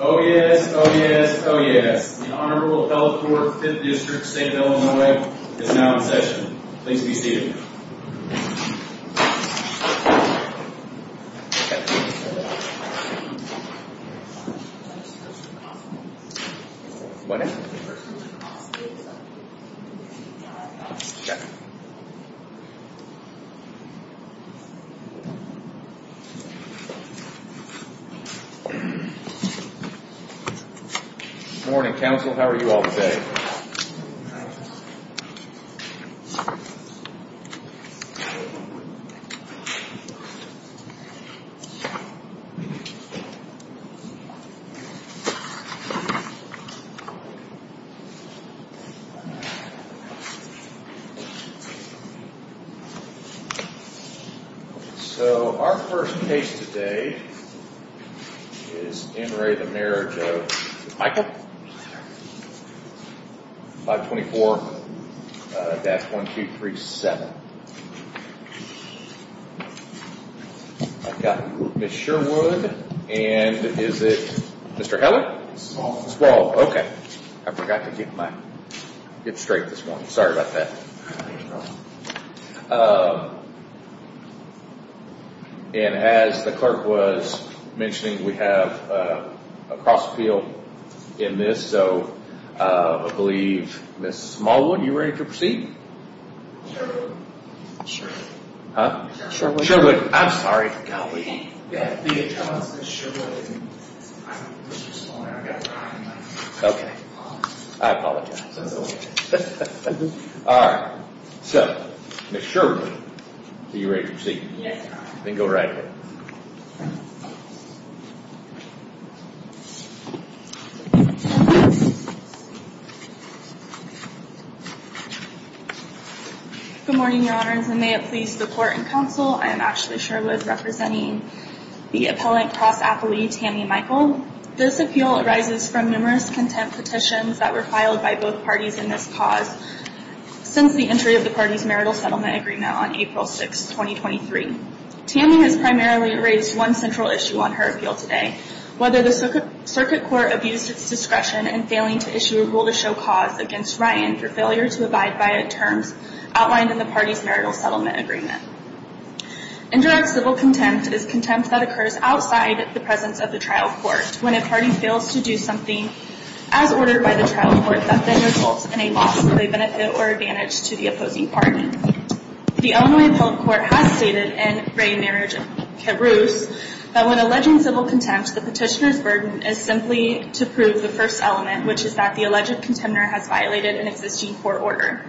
Oh yes, oh yes, oh yes. The Honorable Health Board of the 5th District of St. Illinois is now in session. Please be seated. Good morning, Counsel. How are you all today? Good morning. 524-1237 I've got Ms. Sherwood and is it Mr. Helen? Squall. Squall, okay. I forgot to get my, get straight this morning. Sorry about that. And as the clerk was mentioning, we have a cross appeal in this, so I believe Ms. Smallwood, you ready to proceed? Sherwood. Sherwood. Huh? Sherwood. Sherwood. I'm sorry. Okay. I apologize. All right. So, Ms. Sherwood, are you ready to proceed? Yes, Your Honor. Then go right ahead. Good morning, Your Honors, and may it please the Court and Counsel, I am Ashley Sherwood representing the appellant cross-appealee Tammy Michl. This appeal arises from numerous contempt petitions that were filed by both parties in this cause since the entry of the party's marital settlement agreement on April 6, 2023. Tammy has primarily raised one central issue on her appeal today, whether the circuit court abused its discretion in failing to issue a rule to show cause against Ryan for failure to abide by terms outlined in the party's marital settlement agreement. Indirect civil contempt is contempt that occurs outside the presence of the trial court when a party fails to do something as ordered by the trial court that then results in a loss of a benefit or advantage to the opposing party. The Illinois Appellate Court has stated in Ray Marriage-Carrouse that when alleging civil contempt, the petitioner's burden is simply to prove the first element, which is that the alleged contender has violated an existing court order.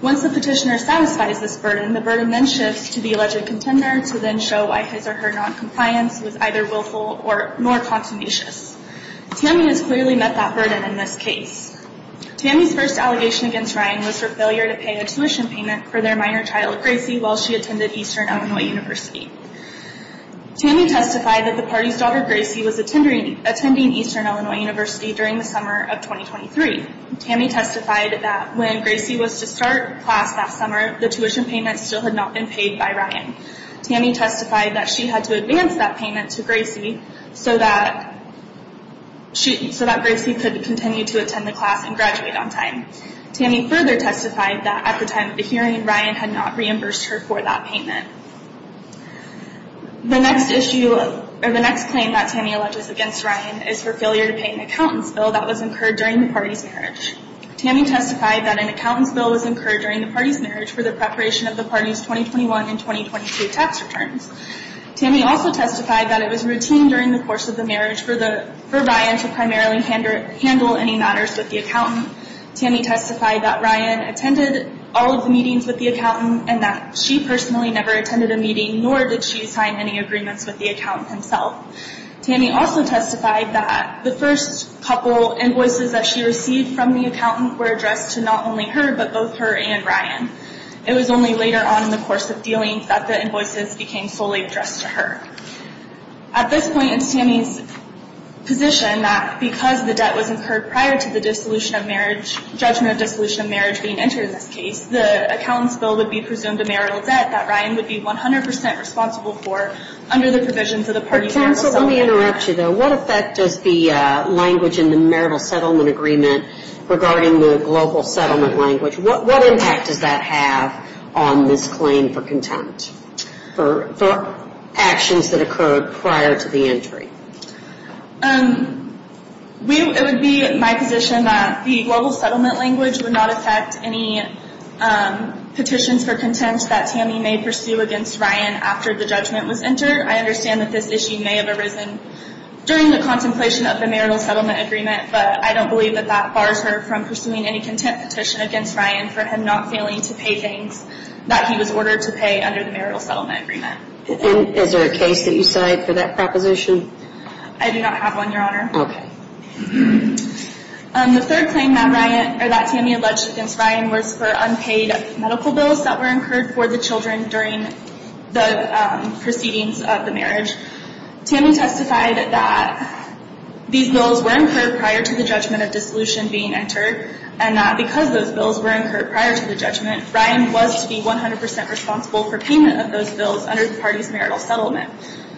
Once the petitioner satisfies this burden, the burden then shifts to the alleged contender to then show why his or her noncompliance was either willful or more continuous. Tammy has clearly met that burden in this case. Tammy's first allegation against Ryan was her failure to pay a tuition payment for their minor child, Gracie, while she attended Eastern Illinois University. Tammy testified that the party's daughter, Gracie, was attending Eastern Illinois University during the summer of 2023. Tammy testified that when Gracie was to start class that summer, the tuition payment still had not been paid by Ryan. Tammy testified that she had to advance that payment to Gracie so that Gracie could continue to attend the class and graduate on time. Tammy further testified that at the time of the hearing, Ryan had not reimbursed her for that payment. The next claim that Tammy alleges against Ryan is her failure to pay an accountant's bill that was incurred during the party's marriage. Tammy testified that an accountant's bill was incurred during the party's marriage for the preparation of the party's 2021 and 2022 tax returns. Tammy also testified that it was routine during the course of the marriage for Ryan to primarily handle any matters with the accountant. Tammy testified that Ryan attended all of the meetings with the accountant and that she personally never attended a meeting, nor did she sign any agreements with the accountant himself. Tammy also testified that the first couple invoices that she received from the accountant were addressed to not only her, but both her and Ryan. It was only later on in the course of dealing that the invoices became solely addressed to her. At this point, it's Tammy's position that because the debt was incurred prior to the judgment of dissolution of marriage being entered in this case, the accountant's bill would be presumed a marital debt that Ryan would be 100% responsible for under the provisions of the party's marital settlement agreement. Counsel, let me interrupt you, though. What effect does the language in the marital settlement agreement regarding the global settlement language, what impact does that have on this claim for contempt for actions that occurred prior to the entry? It would be my position that the global settlement language would not affect any petitions for contempt that Tammy may pursue against Ryan after the judgment was entered. I understand that this issue may have arisen during the contemplation of the marital settlement agreement, but I don't believe that that bars her from pursuing any contempt petition against Ryan for him not failing to pay things that he was ordered to pay under the marital settlement agreement. Is there a case that you cite for that proposition? I do not have one, Your Honor. Okay. The third claim that Tammy alleged against Ryan was for unpaid medical bills that were incurred for the children during the proceedings of the marriage. Tammy testified that these bills were incurred prior to the judgment of dissolution being entered, and that because those bills were incurred prior to the judgment, Ryan was to be 100 percent responsible for payment of those bills under the party's marital settlement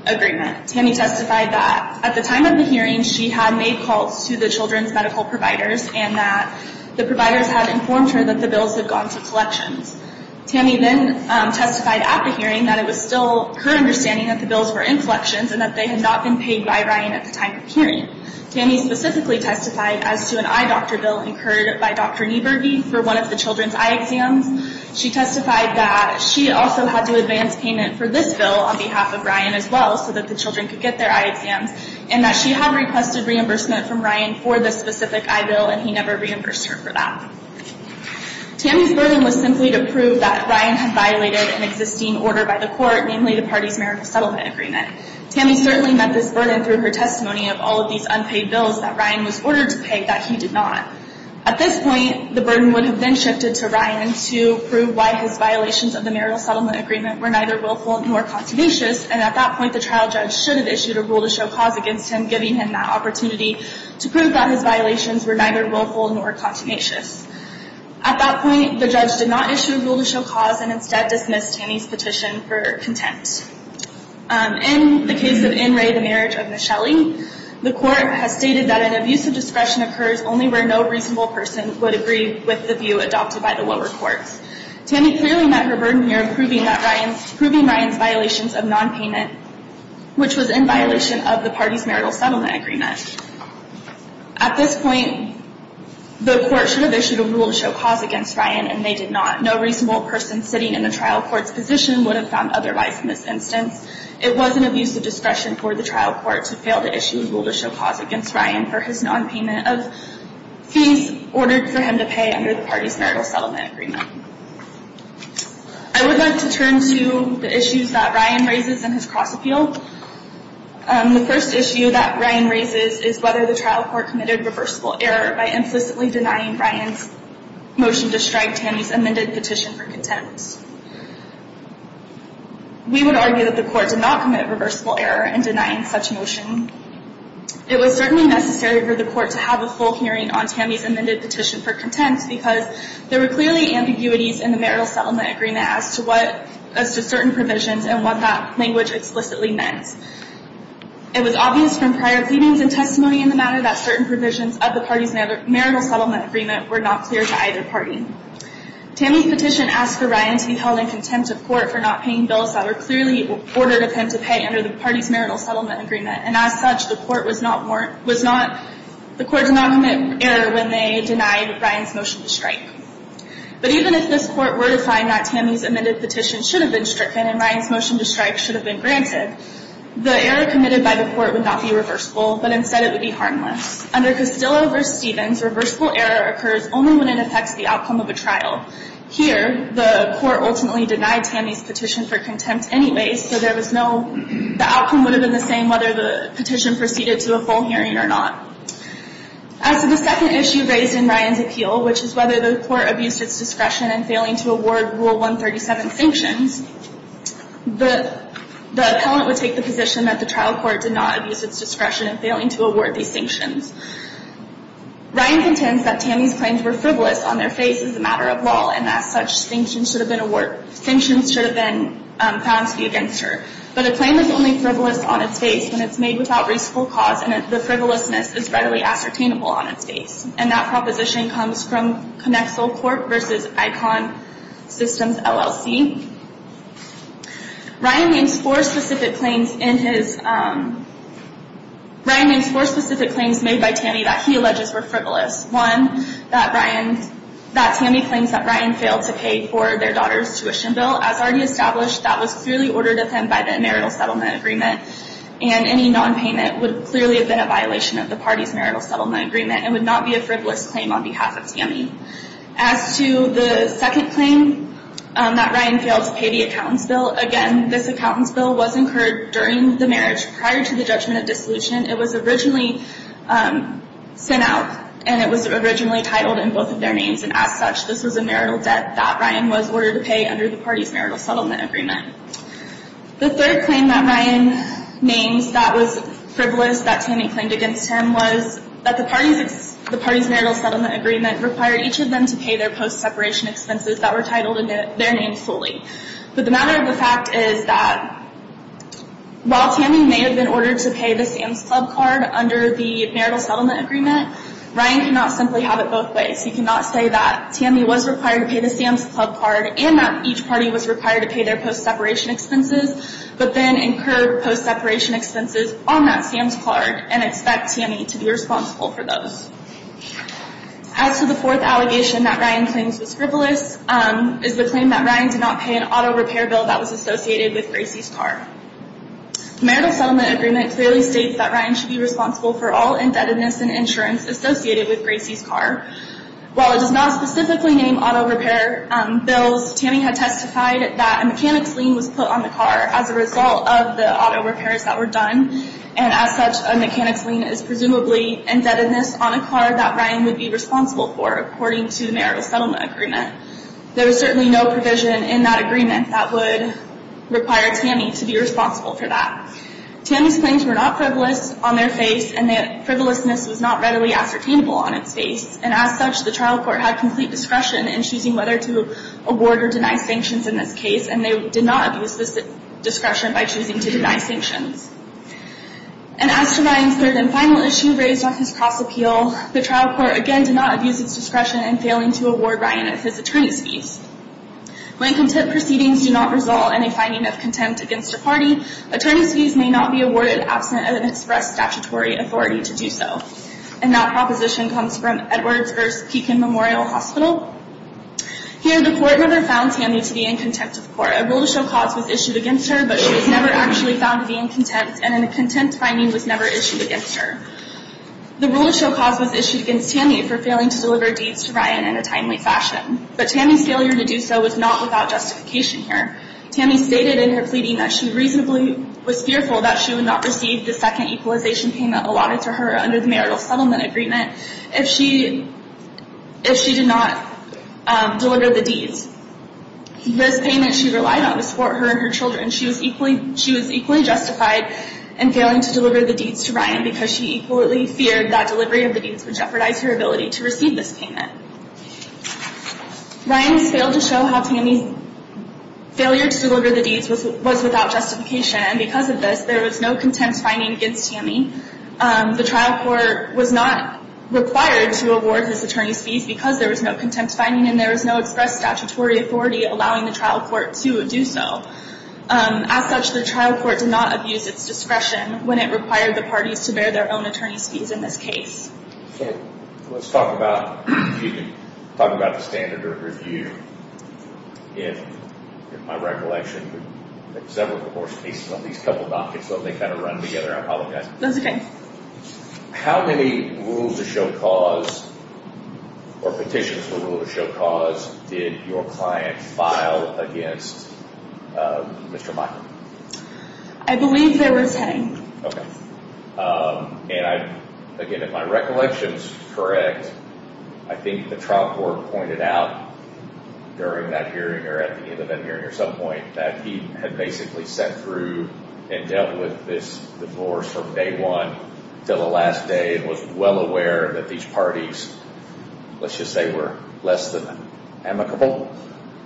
agreement. Tammy testified that at the time of the hearing, she had made calls to the children's medical providers and that the providers had informed her that the bills had gone to collections. Tammy then testified at the hearing that it was still her understanding that the bills were in collections and that they had not been paid by Ryan at the time of the hearing. Tammy specifically testified as to an eye doctor bill incurred by Dr. Niebergy for one of the children's eye exams. She testified that she also had to advance payment for this bill on behalf of Ryan as well so that the children could get their eye exams, and that she had requested reimbursement from Ryan for this specific eye bill, and he never reimbursed her for that. Tammy's burden was simply to prove that Ryan had violated an existing order by the court, namely the party's marital settlement agreement. Tammy certainly met this burden through her testimony of all of these unpaid bills that Ryan was ordered to pay that he did not. At this point, the burden would have been shifted to Ryan to prove why his violations of the marital settlement agreement were neither willful nor continuous, and at that point, the trial judge should have issued a rule to show cause against him, giving him that opportunity to prove that his violations were neither willful nor continuous. At that point, the judge did not issue a rule to show cause and instead dismissed Tammy's petition for contempt. In the case of In Re, the Marriage of Michele, the court has stated that an abuse of discretion occurs only where no reasonable person would agree with the view adopted by the lower courts. Tammy clearly met her burden here, proving Ryan's violations of nonpayment, which was in violation of the party's marital settlement agreement. At this point, the court should have issued a rule to show cause against Ryan, and they did not. No reasonable person sitting in a trial court's position would have found otherwise in this instance. It was an abuse of discretion for the trial court to fail to issue a rule to show cause against Ryan for his nonpayment of fees ordered for him to pay under the party's marital settlement agreement. I would like to turn to the issues that Ryan raises in his cross-appeal. The first issue that Ryan raises is whether the trial court committed reversible error by implicitly denying Ryan's motion to strike Tammy's amended petition for contempt. We would argue that the court did not commit reversible error in denying such a motion. It was certainly necessary for the court to have a full hearing on Tammy's amended petition for contempt because there were clearly ambiguities in the marital settlement agreement as to certain provisions and what that language explicitly meant. It was obvious from prior pleadings and testimony in the matter that certain provisions of the party's marital settlement agreement were not clear to either party. Tammy's petition asked for Ryan to be held in contempt of court for not paying bills that were clearly ordered of him to pay under the party's marital settlement agreement, and as such, the court did not commit error when they denied Ryan's motion to strike. But even if this court were to find that Tammy's amended petition should have been stricken and Ryan's motion to strike should have been granted, the error committed by the court would not be reversible, but instead it would be harmless. Under Castillo v. Stevens, reversible error occurs only when it affects the outcome of a trial. Here, the court ultimately denied Tammy's petition for contempt anyway, so the outcome would have been the same whether the petition proceeded to a full hearing or not. As to the second issue raised in Ryan's appeal, which is whether the court abused its discretion in failing to award Rule 137 sanctions, the appellant would take the position that the trial court did not abuse its discretion in failing to award these sanctions. Ryan contends that Tammy's claims were frivolous on their face as a matter of law and that such sanctions should have been found to be against her. But a claim is only frivolous on its face when it's made without reasonable cause and the frivolousness is readily ascertainable on its face, and that proposition comes from Conexal Court v. Icon Systems, LLC. Ryan names four specific claims made by Tammy that he alleges were frivolous. One, that Tammy claims that Ryan failed to pay for their daughter's tuition bill. As already established, that was clearly ordered of him by the marital settlement agreement and any non-payment would clearly have been a violation of the party's marital settlement agreement and would not be a frivolous claim on behalf of Tammy. As to the second claim, that Ryan failed to pay the accountant's bill, again, this accountant's bill was incurred during the marriage prior to the judgment of dissolution. It was originally sent out and it was originally titled in both of their names, and as such, this was a marital debt that Ryan was ordered to pay under the party's marital settlement agreement. The third claim that Ryan names that was frivolous that Tammy claimed against him was that the party's marital settlement agreement required each of them to pay their post-separation expenses that were titled in their names fully. But the matter of the fact is that while Tammy may have been ordered to pay the Sam's Club card under the marital settlement agreement, Ryan cannot simply have it both ways. He cannot say that Tammy was required to pay the Sam's Club card and that each party was required to pay their post-separation expenses, but then incur post-separation expenses on that Sam's card and expect Tammy to be responsible for those. As to the fourth allegation that Ryan claims was frivolous, is the claim that Ryan did not pay an auto repair bill that was associated with Gracie's car. The marital settlement agreement clearly states that Ryan should be responsible for all indebtedness and insurance associated with Gracie's car. While it does not specifically name auto repair bills, Tammy had testified that a mechanics lien was put on the car as a result of the auto repairs that were done and as such a mechanics lien is presumably indebtedness on a car that Ryan would be responsible for according to the marital settlement agreement. There is certainly no provision in that agreement that would require Tammy to be responsible for that. Tammy's claims were not frivolous on their face and that frivolousness was not readily ascertainable on its face and as such the trial court had complete discretion in choosing whether to award or deny sanctions in this case and they did not abuse this discretion by choosing to deny sanctions. And as to Ryan's third and final issue raised on his cross appeal, the trial court again did not abuse its discretion in failing to award Ryan his attorney's fees. When contempt proceedings do not result in a finding of contempt against a party, attorney's fees may not be awarded absent of an express statutory authority to do so. And that proposition comes from Edwards versus Keekin Memorial Hospital. Here the court rather found Tammy to be in contempt of the court. A rule of show cause was issued against her but she was never actually found to be in contempt and a contempt finding was never issued against her. The rule of show cause was issued against Tammy for failing to deliver deeds to Ryan in a timely fashion. But Tammy's failure to do so was not without justification here. Tammy stated in her pleading that she reasonably was fearful that she would not receive the second equalization payment allotted to her under the marital settlement agreement if she did not deliver the deeds. This payment she relied on to support her and her children. She was equally justified in failing to deliver the deeds to Ryan because she equally feared that delivery of the deeds would jeopardize her ability to receive this payment. Ryan has failed to show how Tammy's failure to deliver the deeds was without justification and because of this there was no contempt finding against Tammy. The trial court was not required to award his attorney's fees because there was no contempt finding and there was no express statutory authority allowing the trial court to do so. As such the trial court did not abuse its discretion when it required the parties to bear their own attorney's fees in this case. Let's talk about, if you can talk about the standard of review. In my recollection there are several court cases on these couple of dockets so they kind of run together. That's okay. How many rules of show cause or petitions for rule of show cause did your client file against Mr. Michael? I believe there was 10. Okay. And again if my recollection is correct I think the trial court pointed out during that hearing or at the end of that hearing or some point that he had basically sat through and dealt with this divorce from day one to the last day and was well aware that these parties, let's just say were less than amicable.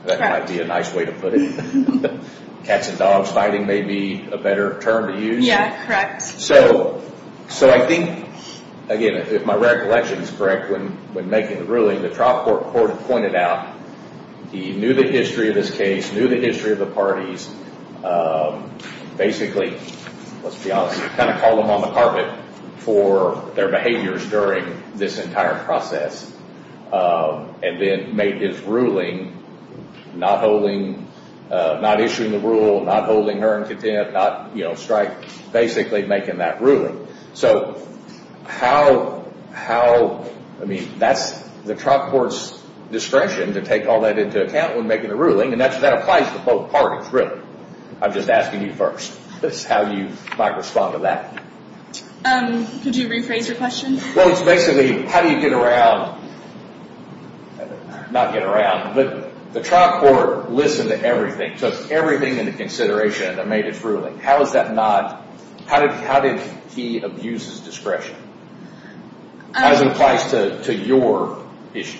That might be a nice way to put it. Cats and dogs fighting may be a better term to use. Yeah, correct. So I think again if my recollection is correct when making the ruling the trial court pointed out he knew the history of this case, knew the history of the parties. Basically, let's be honest, kind of called them on the carpet for their behaviors during this entire process and then made his ruling not holding, not issuing the rule, not holding her in contempt, not strike, basically making that ruling. So how, I mean that's the trial court's discretion to take all that into account when making the ruling and that applies to both parties really. I'm just asking you first. That's how you might respond to that. Could you rephrase your question? Well, it's basically how do you get around, not get around, but the trial court listened to everything, took everything into consideration and made its ruling. How is that not, how did he abuse his discretion as it applies to your issue?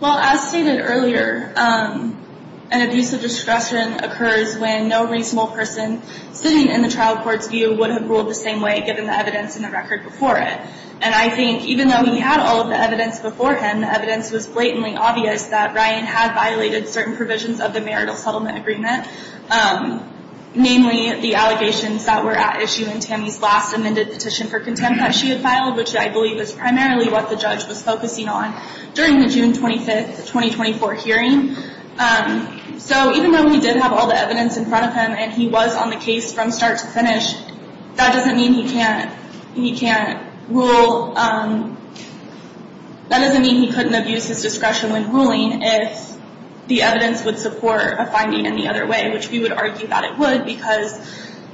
Well, as stated earlier, an abuse of discretion occurs when no reasonable person sitting in the trial court's view would have ruled the same way given the evidence and the record before it. And I think even though he had all of the evidence before him, the evidence was blatantly obvious that Ryan had violated certain provisions of the marital settlement agreement, namely the allegations that were at issue in Tammy's last amended petition for contempt that she had filed, which I believe is primarily what the judge was focusing on during the June 25, 2024 hearing. So even though he did have all the evidence in front of him and he was on the case from start to finish, that doesn't mean he can't rule, that doesn't mean he couldn't abuse his discretion when ruling if the evidence would support a finding any other way, which we would argue that it would because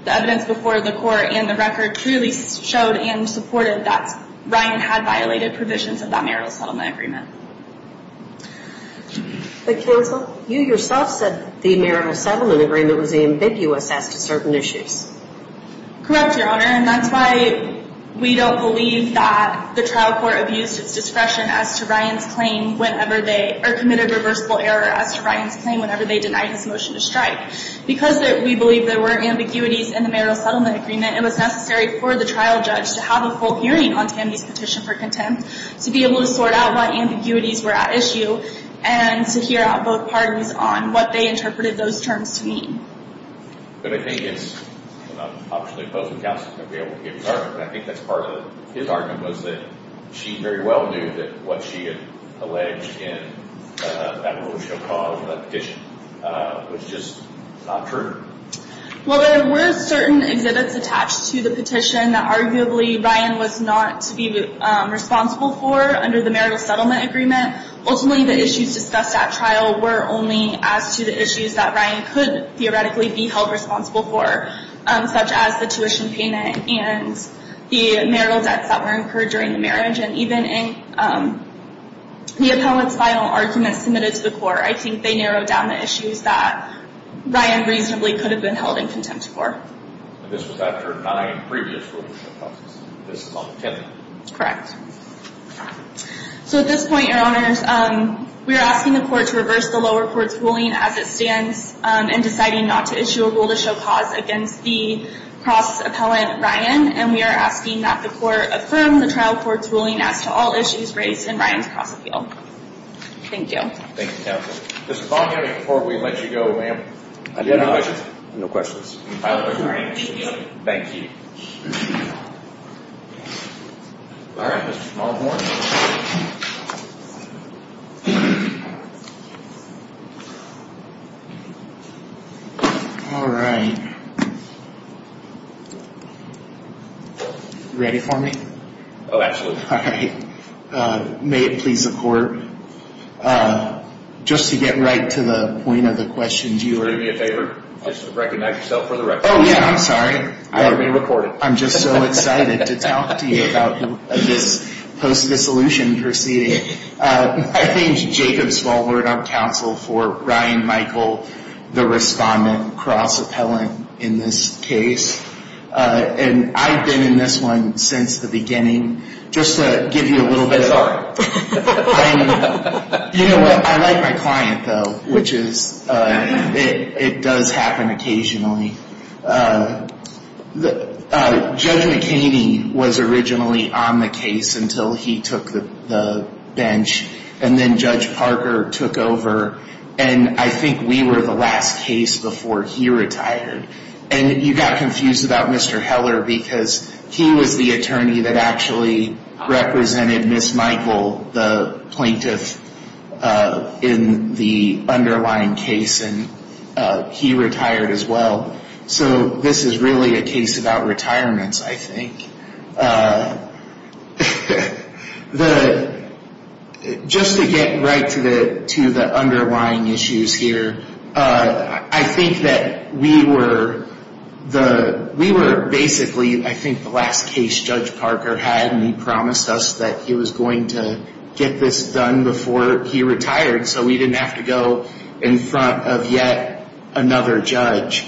the evidence before the court and the record truly showed and supported that Ryan had violated provisions of that marital settlement agreement. But Counsel, you yourself said the marital settlement agreement was ambiguous as to certain issues. Correct, Your Honor, and that's why we don't believe that the trial court abused its discretion as to Ryan's claim whenever they, or committed a reversible error as to Ryan's claim whenever they denied his motion to strike. Because we believe there were ambiguities in the marital settlement agreement, it was necessary for the trial judge to have a full hearing on Tammy's petition for contempt to be able to sort out what ambiguities were at issue and to hear out both parties on what they interpreted those terms to mean. But I think it's, and I'm optionally opposed when Counsel is going to be able to give his argument, but I think that's part of his argument was that she very well knew that what she had alleged in that motion or cause of that petition was just not true. Well, there were certain exhibits attached to the petition that arguably Ryan was not to be responsible for under the marital settlement agreement. Ultimately, the issues discussed at trial were only as to the issues that Ryan could theoretically be held responsible for, such as the tuition payment and the marital debts that were incurred during the marriage. And even in the appellate's final arguments submitted to the court, I think they narrowed down the issues that Ryan reasonably could have been held in contempt for. And this was after nine previous rule-to-show causes. Correct. So at this point, Your Honors, we are asking the court to reverse the lower court's ruling as it stands in deciding not to issue a rule-to-show cause against the cross-appellant Ryan, and we are asking that the court affirm the trial court's ruling as to all issues raised in Ryan's cross-appeal. Thank you. Thank you, counsel. Mr. Vaughn-Henry, before we let you go, ma'am, do you have any questions? No questions. I look forward to hearing from you. Thank you. All right, Mr. Smallhorn. All right. Ready for me? Oh, absolutely. All right. May it please the court, just to get right to the point of the question. Do you want to do me a favor? Just recognize yourself for the record. Oh, yeah, I'm sorry. You're being recorded. I'm just so excited to talk to you about this post-dissolution proceeding. I think Jacob Smallhorn, our counsel for Ryan Michael, the respondent cross-appellant in this case, and I've been in this one since the beginning. Just to give you a little bit of- You know what? I like my client, though, which is it does happen occasionally. Judge McHaney was originally on the case until he took the bench, and then Judge Parker took over, and I think we were the last case before he retired. And you got confused about Mr. Heller because he was the attorney that actually represented Ms. Michael, the plaintiff in the underlying case, and he retired as well. So this is really a case about retirements, I think. Just to get right to the underlying issues here, I think that we were basically, I think, the last case Judge Parker had, and he promised us that he was going to get this done before he retired so we didn't have to go in front of yet another judge.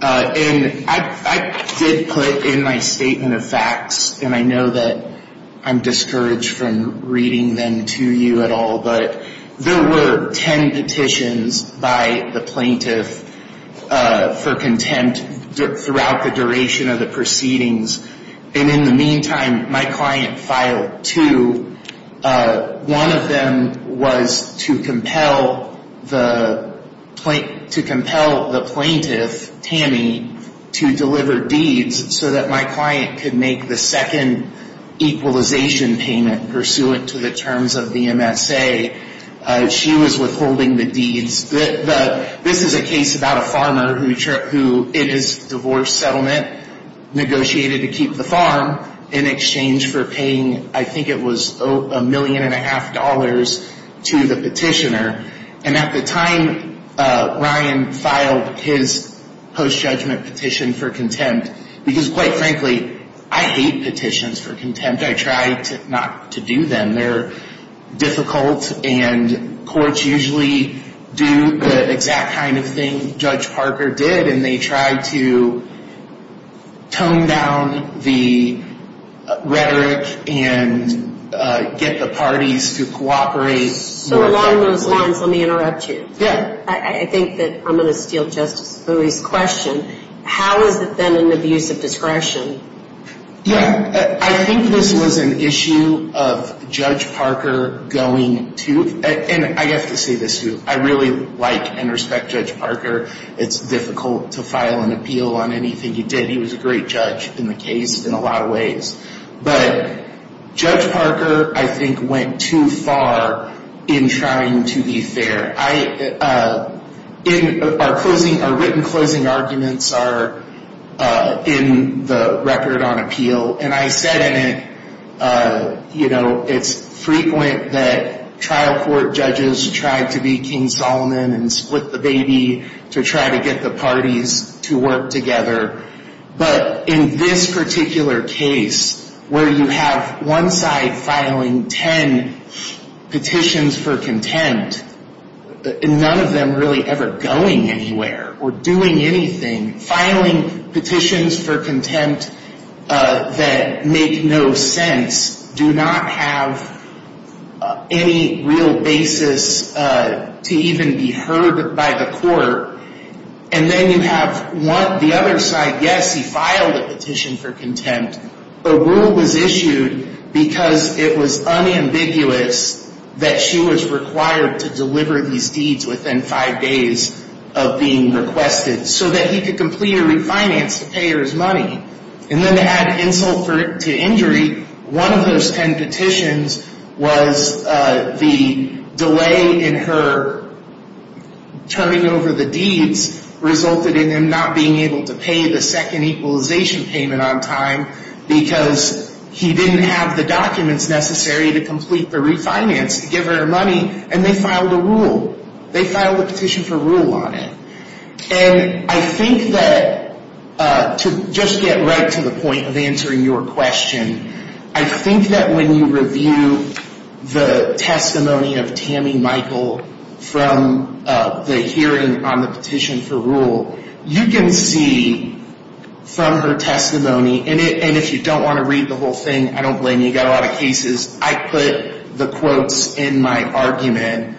And I did put in my statement of facts, and I know that I'm discouraged from reading them to you at all, but there were 10 petitions by the plaintiff for contempt throughout the duration of the proceedings. And in the meantime, my client filed two. One of them was to compel the plaintiff, Tammy, to deliver deeds so that my client could make the second equalization payment pursuant to the terms of the MSA. She was withholding the deeds. This is a case about a farmer who, in his divorce settlement, negotiated to keep the farm in exchange for paying, I think it was a million and a half dollars to the petitioner. And at the time, Ryan filed his post-judgment petition for contempt because, quite frankly, I hate petitions for contempt. I try not to do them. They're difficult, and courts usually do the exact kind of thing Judge Parker did, and they try to tone down the rhetoric and get the parties to cooperate more effectively. So along those lines, let me interrupt you. Yeah. I think that I'm going to steal Justice Lewis' question. How has it been an abuse of discretion? Yeah, I think this was an issue of Judge Parker going to, and I have to say this too, I really like and respect Judge Parker. It's difficult to file an appeal on anything he did. He was a great judge in the case in a lot of ways. But Judge Parker, I think, went too far in trying to be fair. Our written closing arguments are in the record on appeal, and I said in it, you know, it's frequent that trial court judges try to be King Solomon and split the baby to try to get the parties to work together. But in this particular case, where you have one side filing ten petitions for contempt and none of them really ever going anywhere or doing anything, filing petitions for contempt that make no sense, do not have any real basis to even be heard by the court, and then you have the other side, yes, he filed a petition for contempt. A rule was issued because it was unambiguous that she was required to deliver these deeds within five days of being requested so that he could complete her refinance to pay her his money. And then to add insult to injury, one of those ten petitions was the delay in her turning over the deeds resulted in him not being able to pay the second equalization payment on time because he didn't have the documents necessary to complete the refinance to give her her money, and they filed a rule. They filed a petition for rule on it. And I think that, to just get right to the point of answering your question, I think that when you review the testimony of Tammy Michael from the hearing on the petition for rule, you can see from her testimony, and if you don't want to read the whole thing, I don't blame you, we've got a lot of cases, I put the quotes in my argument.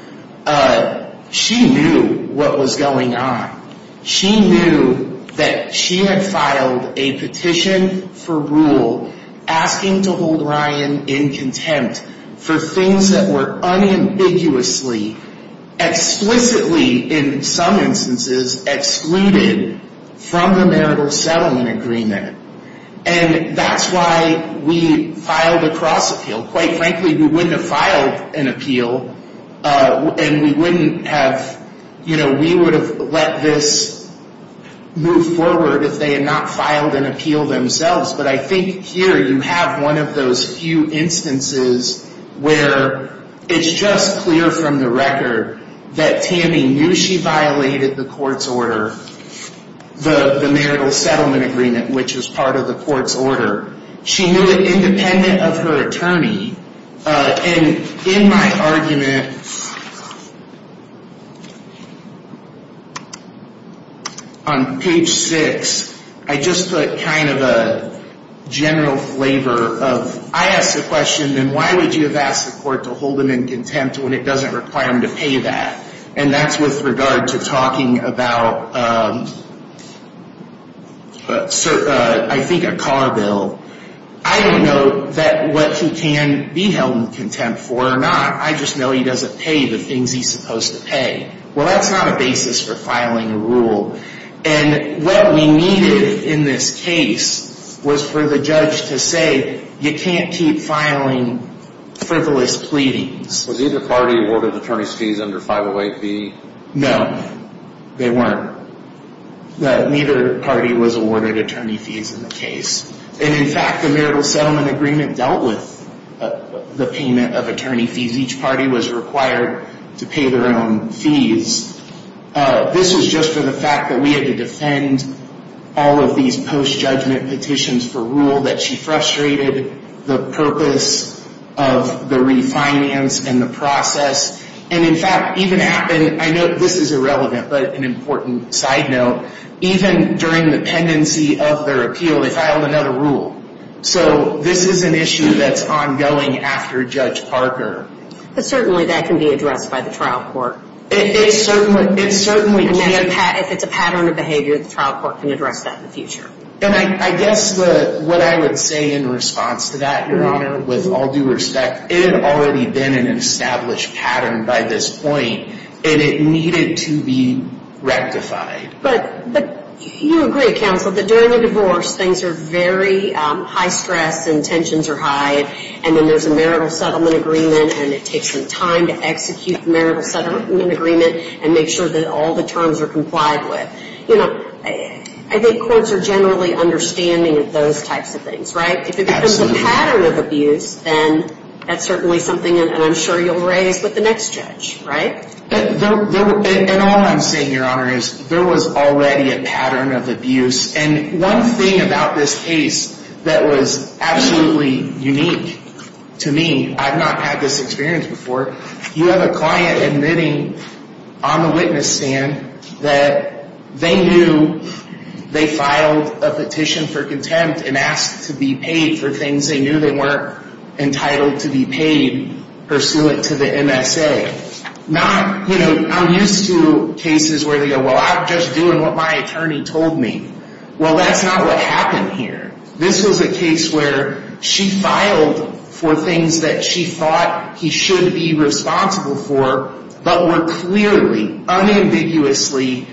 She knew what was going on. She knew that she had filed a petition for rule asking to hold Ryan in contempt for things that were unambiguously, explicitly, in some instances, excluded from the marital settlement agreement. And that's why we filed a cross-appeal. Quite frankly, we wouldn't have filed an appeal and we wouldn't have, you know, we would have let this move forward if they had not filed an appeal themselves. But I think here you have one of those few instances where it's just clear from the record that Tammy knew she violated the court's order, the marital settlement agreement, which is part of the court's order. She knew it independent of her attorney. And in my argument, on page six, I just put kind of a general flavor of, I asked the question, then why would you have asked the court to hold him in contempt when it doesn't require him to pay that? And that's with regard to talking about, I think, a car bill. I don't know that what he can be held in contempt for or not. I just know he doesn't pay the things he's supposed to pay. Well, that's not a basis for filing a rule. And what we needed in this case was for the judge to say you can't keep filing frivolous pleadings. Was either party awarded attorney's fees under 508B? No, they weren't. Neither party was awarded attorney fees in the case. And, in fact, the marital settlement agreement dealt with the payment of attorney fees. Each party was required to pay their own fees. This was just for the fact that we had to defend all of these post-judgment petitions for rule, that she frustrated the purpose of the refinance and the process. And, in fact, even happened, I know this is irrelevant, but an important side note, even during the pendency of their appeal, they filed another rule. So this is an issue that's ongoing after Judge Parker. But certainly that can be addressed by the trial court. It certainly can. If it's a pattern of behavior, the trial court can address that in the future. And I guess what I would say in response to that, Your Honor, with all due respect, it had already been an established pattern by this point, and it needed to be rectified. But you agree, counsel, that during a divorce things are very high stress and tensions are high, and then there's a marital settlement agreement, and it takes some time to execute the marital settlement agreement and make sure that all the terms are complied with. I think courts are generally understanding of those types of things, right? If it's a pattern of abuse, then that's certainly something that I'm sure you'll raise with the next judge, right? And all I'm saying, Your Honor, is there was already a pattern of abuse. And one thing about this case that was absolutely unique to me, I've not had this experience before, you have a client admitting on the witness stand that they knew they filed a petition for contempt and asked to be paid for things they knew they weren't entitled to be paid pursuant to the MSA. I'm used to cases where they go, well, I'm just doing what my attorney told me. Well, that's not what happened here. This was a case where she filed for things that she thought he should be responsible for, but were clearly, unambiguously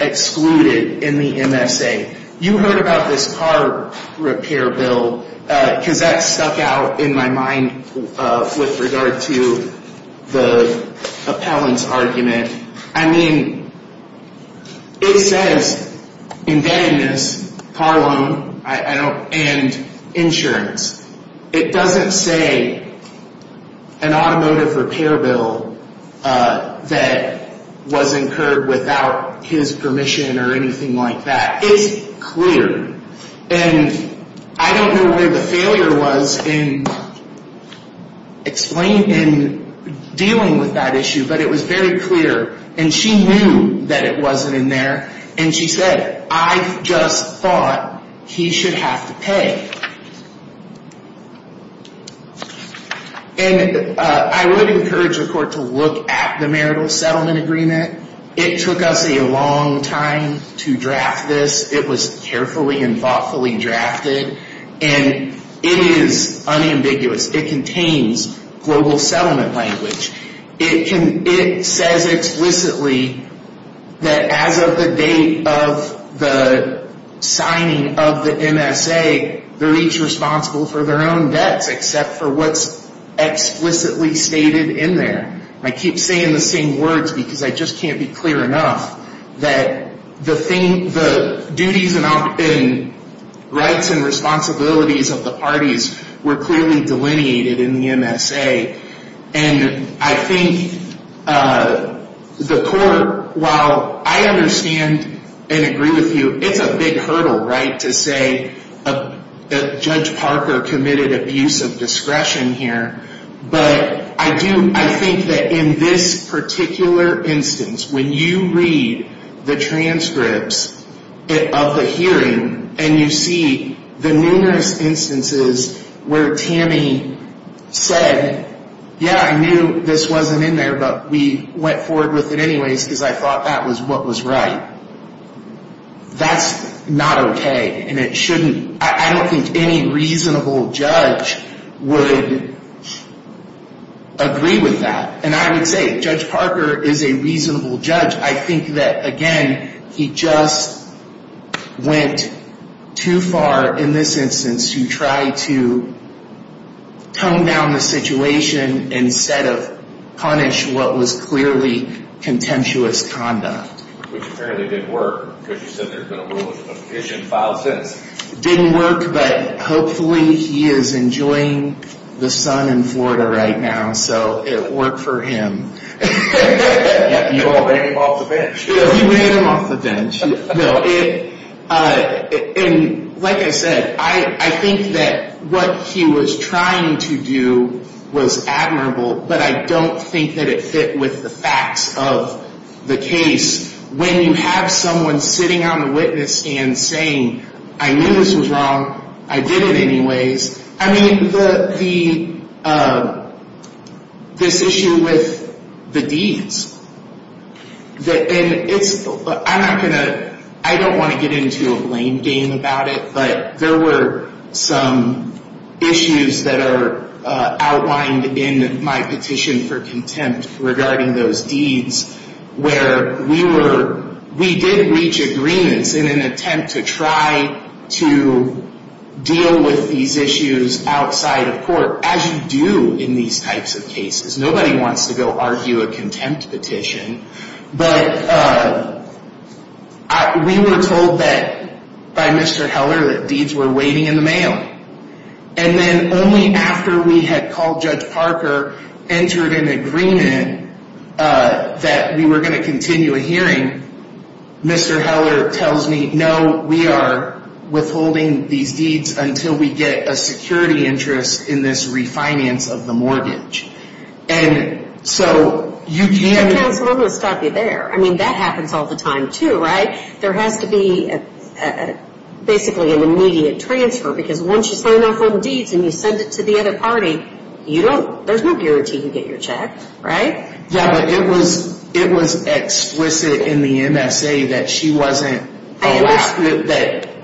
excluded in the MSA. You heard about this car repair bill, because that stuck out in my mind with regard to the appellant's argument. I mean, it says, embeddedness, car loan, and insurance. It doesn't say an automotive repair bill that was incurred without his permission or anything like that. It's clear. And I don't know where the failure was in dealing with that issue, but it was very clear, and she knew that it wasn't in there. And she said, I just thought he should have to pay. And I would encourage the court to look at the marital settlement agreement. It took us a long time to draft this. It was carefully and thoughtfully drafted, and it is unambiguous. It contains global settlement language. It says explicitly that as of the date of the signing of the MSA, they're each responsible for their own debts, except for what's explicitly stated in there. And I keep saying the same words, because I just can't be clear enough, that the duties and rights and responsibilities of the parties were clearly delineated in the MSA. And I think the court, while I understand and agree with you, it's a big hurdle, right, to say that Judge Parker committed abuse of discretion here. But I think that in this particular instance, when you read the transcripts of the hearing and you see the numerous instances where Tammy said, yeah, I knew this wasn't in there, but we went forward with it anyways because I thought that was what was right. That's not okay, and it shouldn't. I don't think any reasonable judge would agree with that. And I would say Judge Parker is a reasonable judge. I think that, again, he just went too far in this instance to try to tone down the situation instead of punish what was clearly contemptuous conduct. Which apparently didn't work, because you said there's been a rule of a vision filed since. Didn't work, but hopefully he is enjoying the sun in Florida right now, so it worked for him. You all made him off the bench. You made him off the bench. And like I said, I think that what he was trying to do was admirable, but I don't think that it fit with the facts of the case. When you have someone sitting on the witness stand saying, I knew this was wrong, I did it anyways. I mean, this issue with the deeds. I don't want to get into a lame game about it, but there were some issues that are outlined in my petition for contempt regarding those deeds where we did reach agreements in an attempt to try to deal with these issues outside of court, as you do in these types of cases. Nobody wants to go argue a contempt petition, but we were told by Mr. Heller that deeds were waiting in the mail. And then only after we had called Judge Parker, entered an agreement that we were going to continue a hearing, Mr. Heller tells me, no, we are withholding these deeds until we get a security interest in this refinance of the mortgage. Counsel, I'm going to stop you there. I mean, that happens all the time too, right? There has to be basically an immediate transfer, because once you sign off on the deeds and you send it to the other party, there's no guarantee you can get your check, right? Yeah, but it was explicit in the MSA that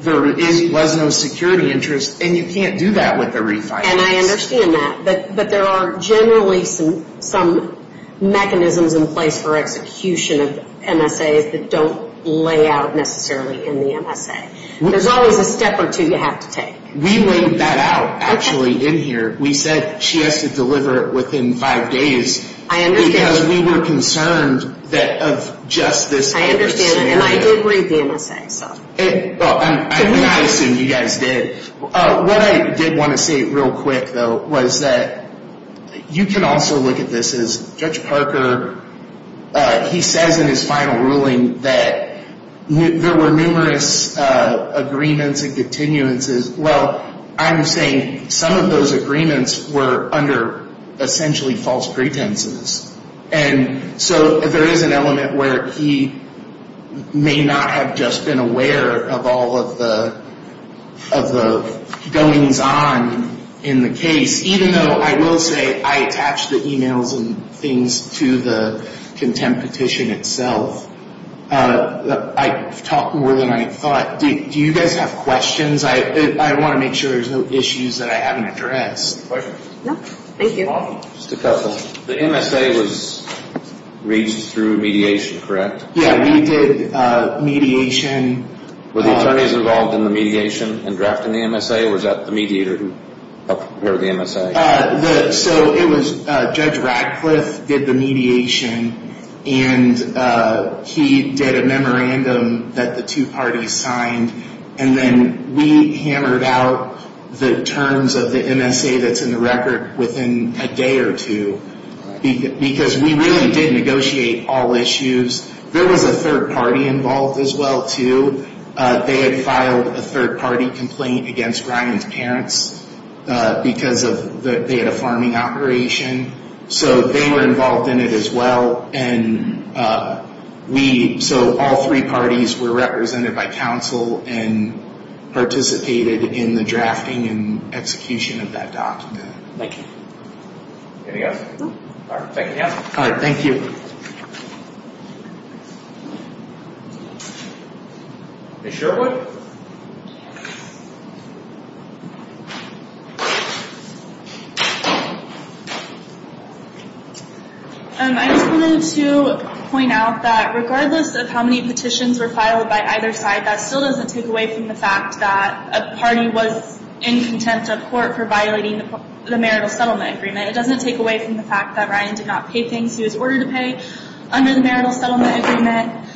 there was no security interest, and you can't do that with a refinance. And I understand that, but there are generally some mechanisms in place for execution of MSAs that don't lay out necessarily in the MSA. There's always a step or two you have to take. We laid that out, actually, in here. We said she has to deliver it within five days. I understand. Because we were concerned that of just this. I understand, and I did read the MSA, so. Well, and I assume you guys did. What I did want to say real quick, though, was that you can also look at this as Judge Parker. He says in his final ruling that there were numerous agreements and continuances. Well, I'm saying some of those agreements were under essentially false pretenses. And so there is an element where he may not have just been aware of all of the goings-on in the case, even though I will say I attached the e-mails and things to the contempt petition itself. I talked more than I thought. Do you guys have questions? I want to make sure there's no issues that I haven't addressed. Questions? No, thank you. Just a couple. The MSA was reached through mediation, correct? Yeah, we did mediation. Were the attorneys involved in the mediation and drafting the MSA, or was that the mediator who helped prepare the MSA? So it was Judge Radcliffe did the mediation, and he did a memorandum that the two parties signed. And then we hammered out the terms of the MSA that's in the record within a day or two, because we really did negotiate all issues. There was a third party involved as well, too. They had filed a third-party complaint against Ryan's parents because they had a farming operation. So they were involved in it as well. So all three parties were represented by counsel and participated in the drafting and execution of that document. Thank you. Anything else? No. All right, thank you. All right, thank you. Ms. Sherwood? Ms. Sherwood? I just wanted to point out that regardless of how many petitions were filed by either side, that still doesn't take away from the fact that a party was in contempt of court for violating the marital settlement agreement. It doesn't take away from the fact that Ryan did not pay things he was ordered to pay under the marital settlement agreement.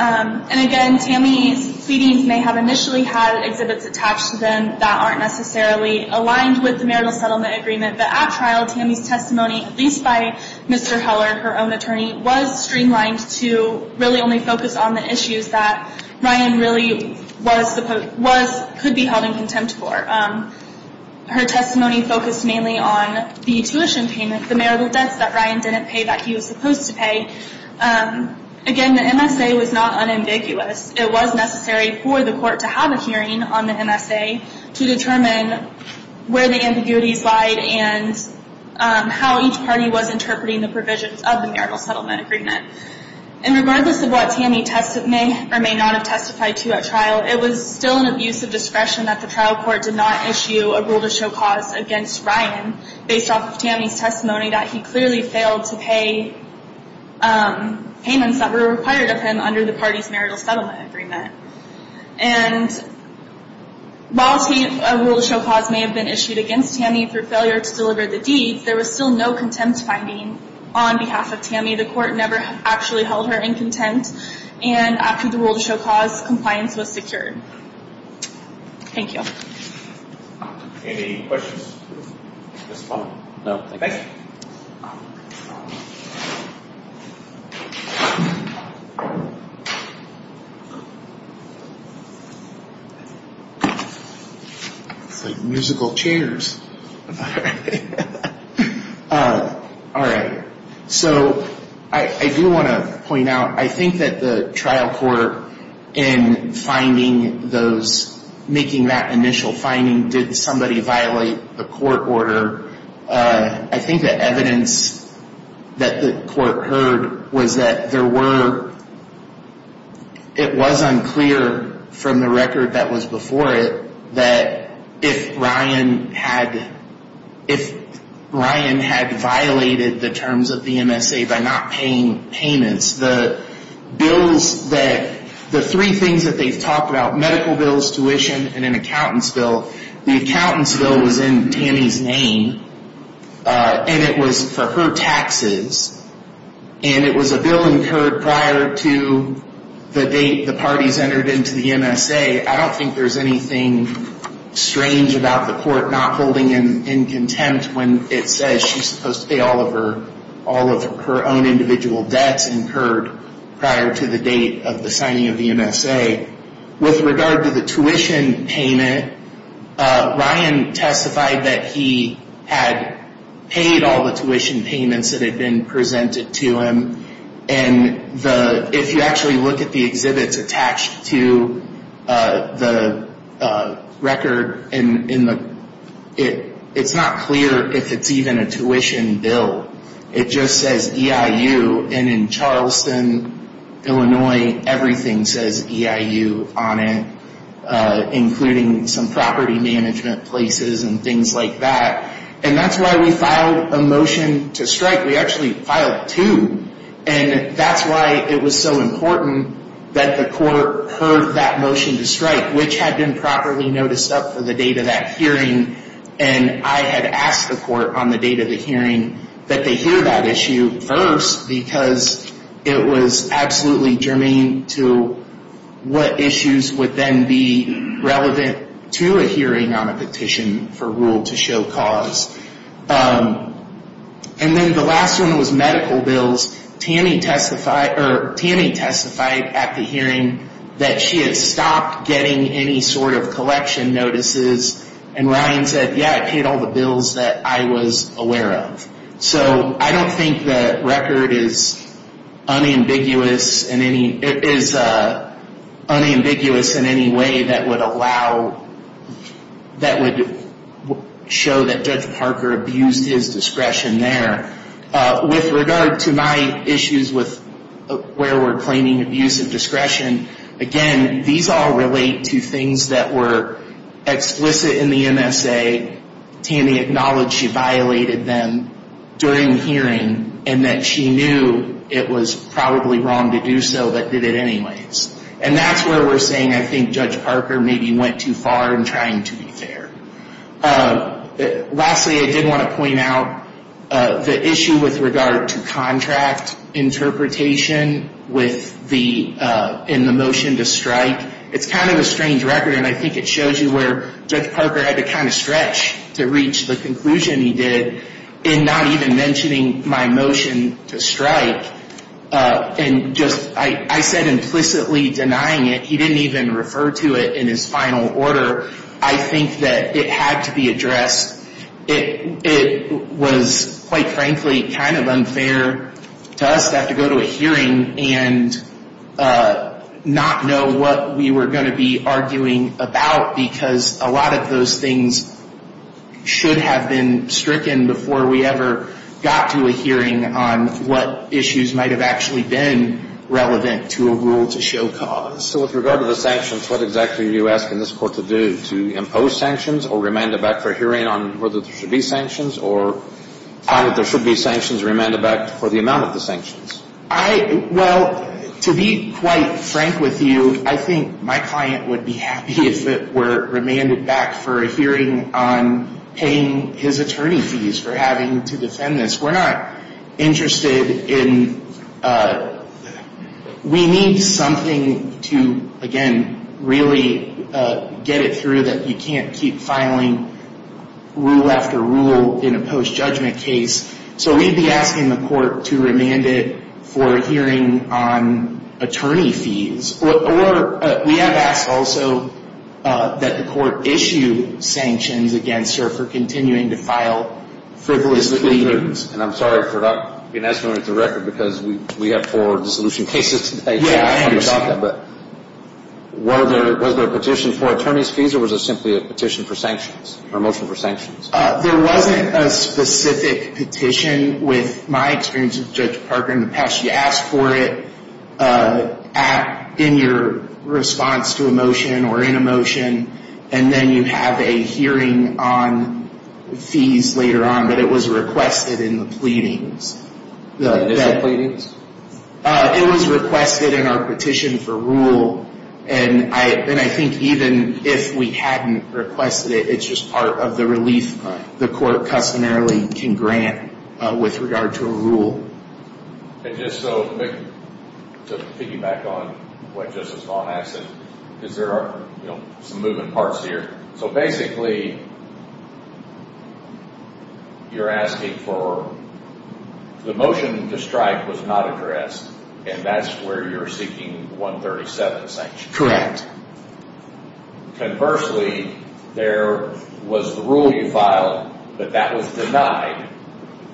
And again, Tammy's pleadings may have initially had exhibits attached to them that aren't necessarily aligned with the marital settlement agreement. But at trial, Tammy's testimony, at least by Mr. Heller, her own attorney, was streamlined to really only focus on the issues that Ryan really could be held in contempt for. Her testimony focused mainly on the tuition payment, the marital debts that Ryan didn't pay that he was supposed to pay. Again, the MSA was not unambiguous. It was necessary for the court to have a hearing on the MSA to determine where the ambiguities lied and how each party was interpreting the provisions of the marital settlement agreement. And regardless of what Tammy may or may not have testified to at trial, it was still an abuse of discretion that the trial court did not issue a rule to show cause against Ryan based off of Tammy's testimony that he clearly failed to pay payments that were required of him under the party's marital settlement agreement. And while a rule to show cause may have been issued against Tammy for failure to deliver the deeds, there was still no contempt finding on behalf of Tammy. The court never actually held her in contempt. And after the rule to show cause, compliance was secured. Thank you. Any questions at this point? No. Thank you. It's like musical chairs. All right. So I do want to point out, I think that the trial court in finding those, making that initial finding, did somebody violate the court order? I think the evidence that the court heard was that there were, it was unclear from the record that was before it that if Ryan had violated the terms of the MSA by not paying payments, the bills that, the three things that they've talked about, medical bills, tuition, and an accountant's bill, the accountant's bill was in Tammy's name, and it was for her taxes, and it was a bill incurred prior to the date the parties entered into the MSA. I don't think there's anything strange about the court not holding him in contempt when it says she's supposed to pay all of her own individual debts incurred prior to the date of the signing of the MSA. With regard to the tuition payment, Ryan testified that he had paid all the tuition payments that had been presented to him. If you actually look at the exhibits attached to the record, it's not clear if it's even a tuition bill. It just says EIU, and in Charleston, Illinois, everything says EIU on it, including some property management places and things like that, and that's why we filed a motion to strike. We actually filed two, and that's why it was so important that the court heard that motion to strike, which had been properly noticed up to the date of that hearing, and I had asked the court on the date of the hearing that they hear that issue first because it was absolutely germane to what issues would then be relevant to a hearing on a petition for rule to show cause. And then the last one was medical bills. Tammy testified at the hearing that she had stopped getting any sort of collection notices, and Ryan said, yeah, I paid all the bills that I was aware of. So I don't think the record is unambiguous in any way that would show that Judge Parker abused his discretion there. With regard to my issues with where we're claiming abuse of discretion, again, these all relate to things that were explicit in the MSA. Tammy acknowledged she violated them during the hearing and that she knew it was probably wrong to do so but did it anyways. And that's where we're saying I think Judge Parker maybe went too far in trying to be fair. Lastly, I did want to point out the issue with regard to contract interpretation in the motion to strike. It's kind of a strange record, and I think it shows you where Judge Parker had to kind of stretch to reach the conclusion he did in not even mentioning my motion to strike. I said implicitly denying it. He didn't even refer to it in his final order. I think that it had to be addressed. It was, quite frankly, kind of unfair to us to have to go to a hearing and not know what we were going to be arguing about because a lot of those things should have been stricken before we ever got to a hearing on what issues might have actually been relevant to a rule to show cause. So with regard to the sanctions, what exactly are you asking this court to do, to impose sanctions or remand it back for a hearing on whether there should be sanctions or find that there should be sanctions remanded back for the amount of the sanctions? Well, to be quite frank with you, I think my client would be happy if it were remanded back for a hearing on paying his attorney fees for having to defend this. We're not interested in—we need something to, again, really get it through that you can't keep filing rule after rule in a post-judgment case. So we'd be asking the court to remand it for a hearing on attorney fees. We have asked also that the court issue sanctions against her for continuing to file frivolous pleadings. And I'm sorry for not being as fluid with the record because we have four dissolution cases today. Yeah, I understand. Was there a petition for attorney's fees or was it simply a petition for sanctions, a motion for sanctions? There wasn't a specific petition. With my experience with Judge Parker in the past, you ask for it in your response to a motion or in a motion, and then you have a hearing on fees later on, but it was requested in the pleadings. Is it pleadings? It was requested in our petition for rule, and I think even if we hadn't requested it, it's just part of the relief the court customarily can grant with regard to a rule. And just so—to piggyback on what Justice Vaughn asked, because there are some moving parts here. So basically, you're asking for—the motion to strike was not addressed, and that's where you're seeking 137 sanctions. Correct. Conversely, there was the rule you filed, but that was denied.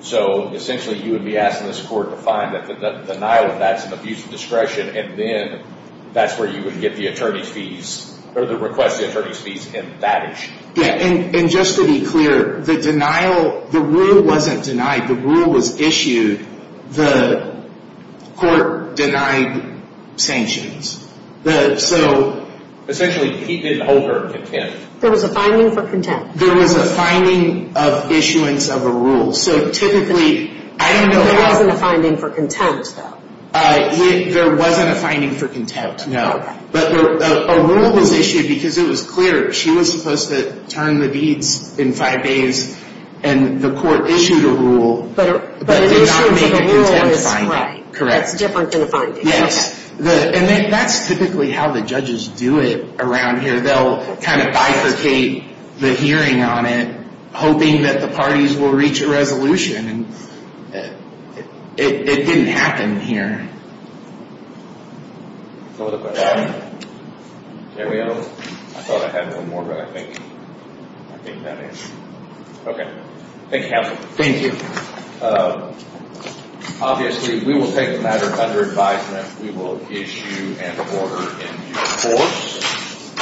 So essentially, you would be asking this court to find that the denial of that is an abuse of discretion, and then that's where you would get the attorney's fees or request the attorney's fees in that issue. Yeah, and just to be clear, the denial—the rule wasn't denied. The rule was issued. The court denied sanctions. So essentially, he didn't hold her in contempt. There was a finding for contempt. There was a finding of issuance of a rule. So typically, I don't know— There wasn't a finding for contempt, though. There wasn't a finding for contempt, no. But a rule was issued because it was clear she was supposed to turn the deeds in five days, and the court issued a rule that did not make a contempt finding. Correct. That's different than a finding. Yes. And that's typically how the judges do it around here. They'll kind of bifurcate the hearing on it, hoping that the parties will reach a resolution. It didn't happen here. Other questions? I thought I had one more, but I think that is it. Okay. Thank you, counsel. Thank you. Obviously, we will take the matter under advisement. We will issue an order in due course.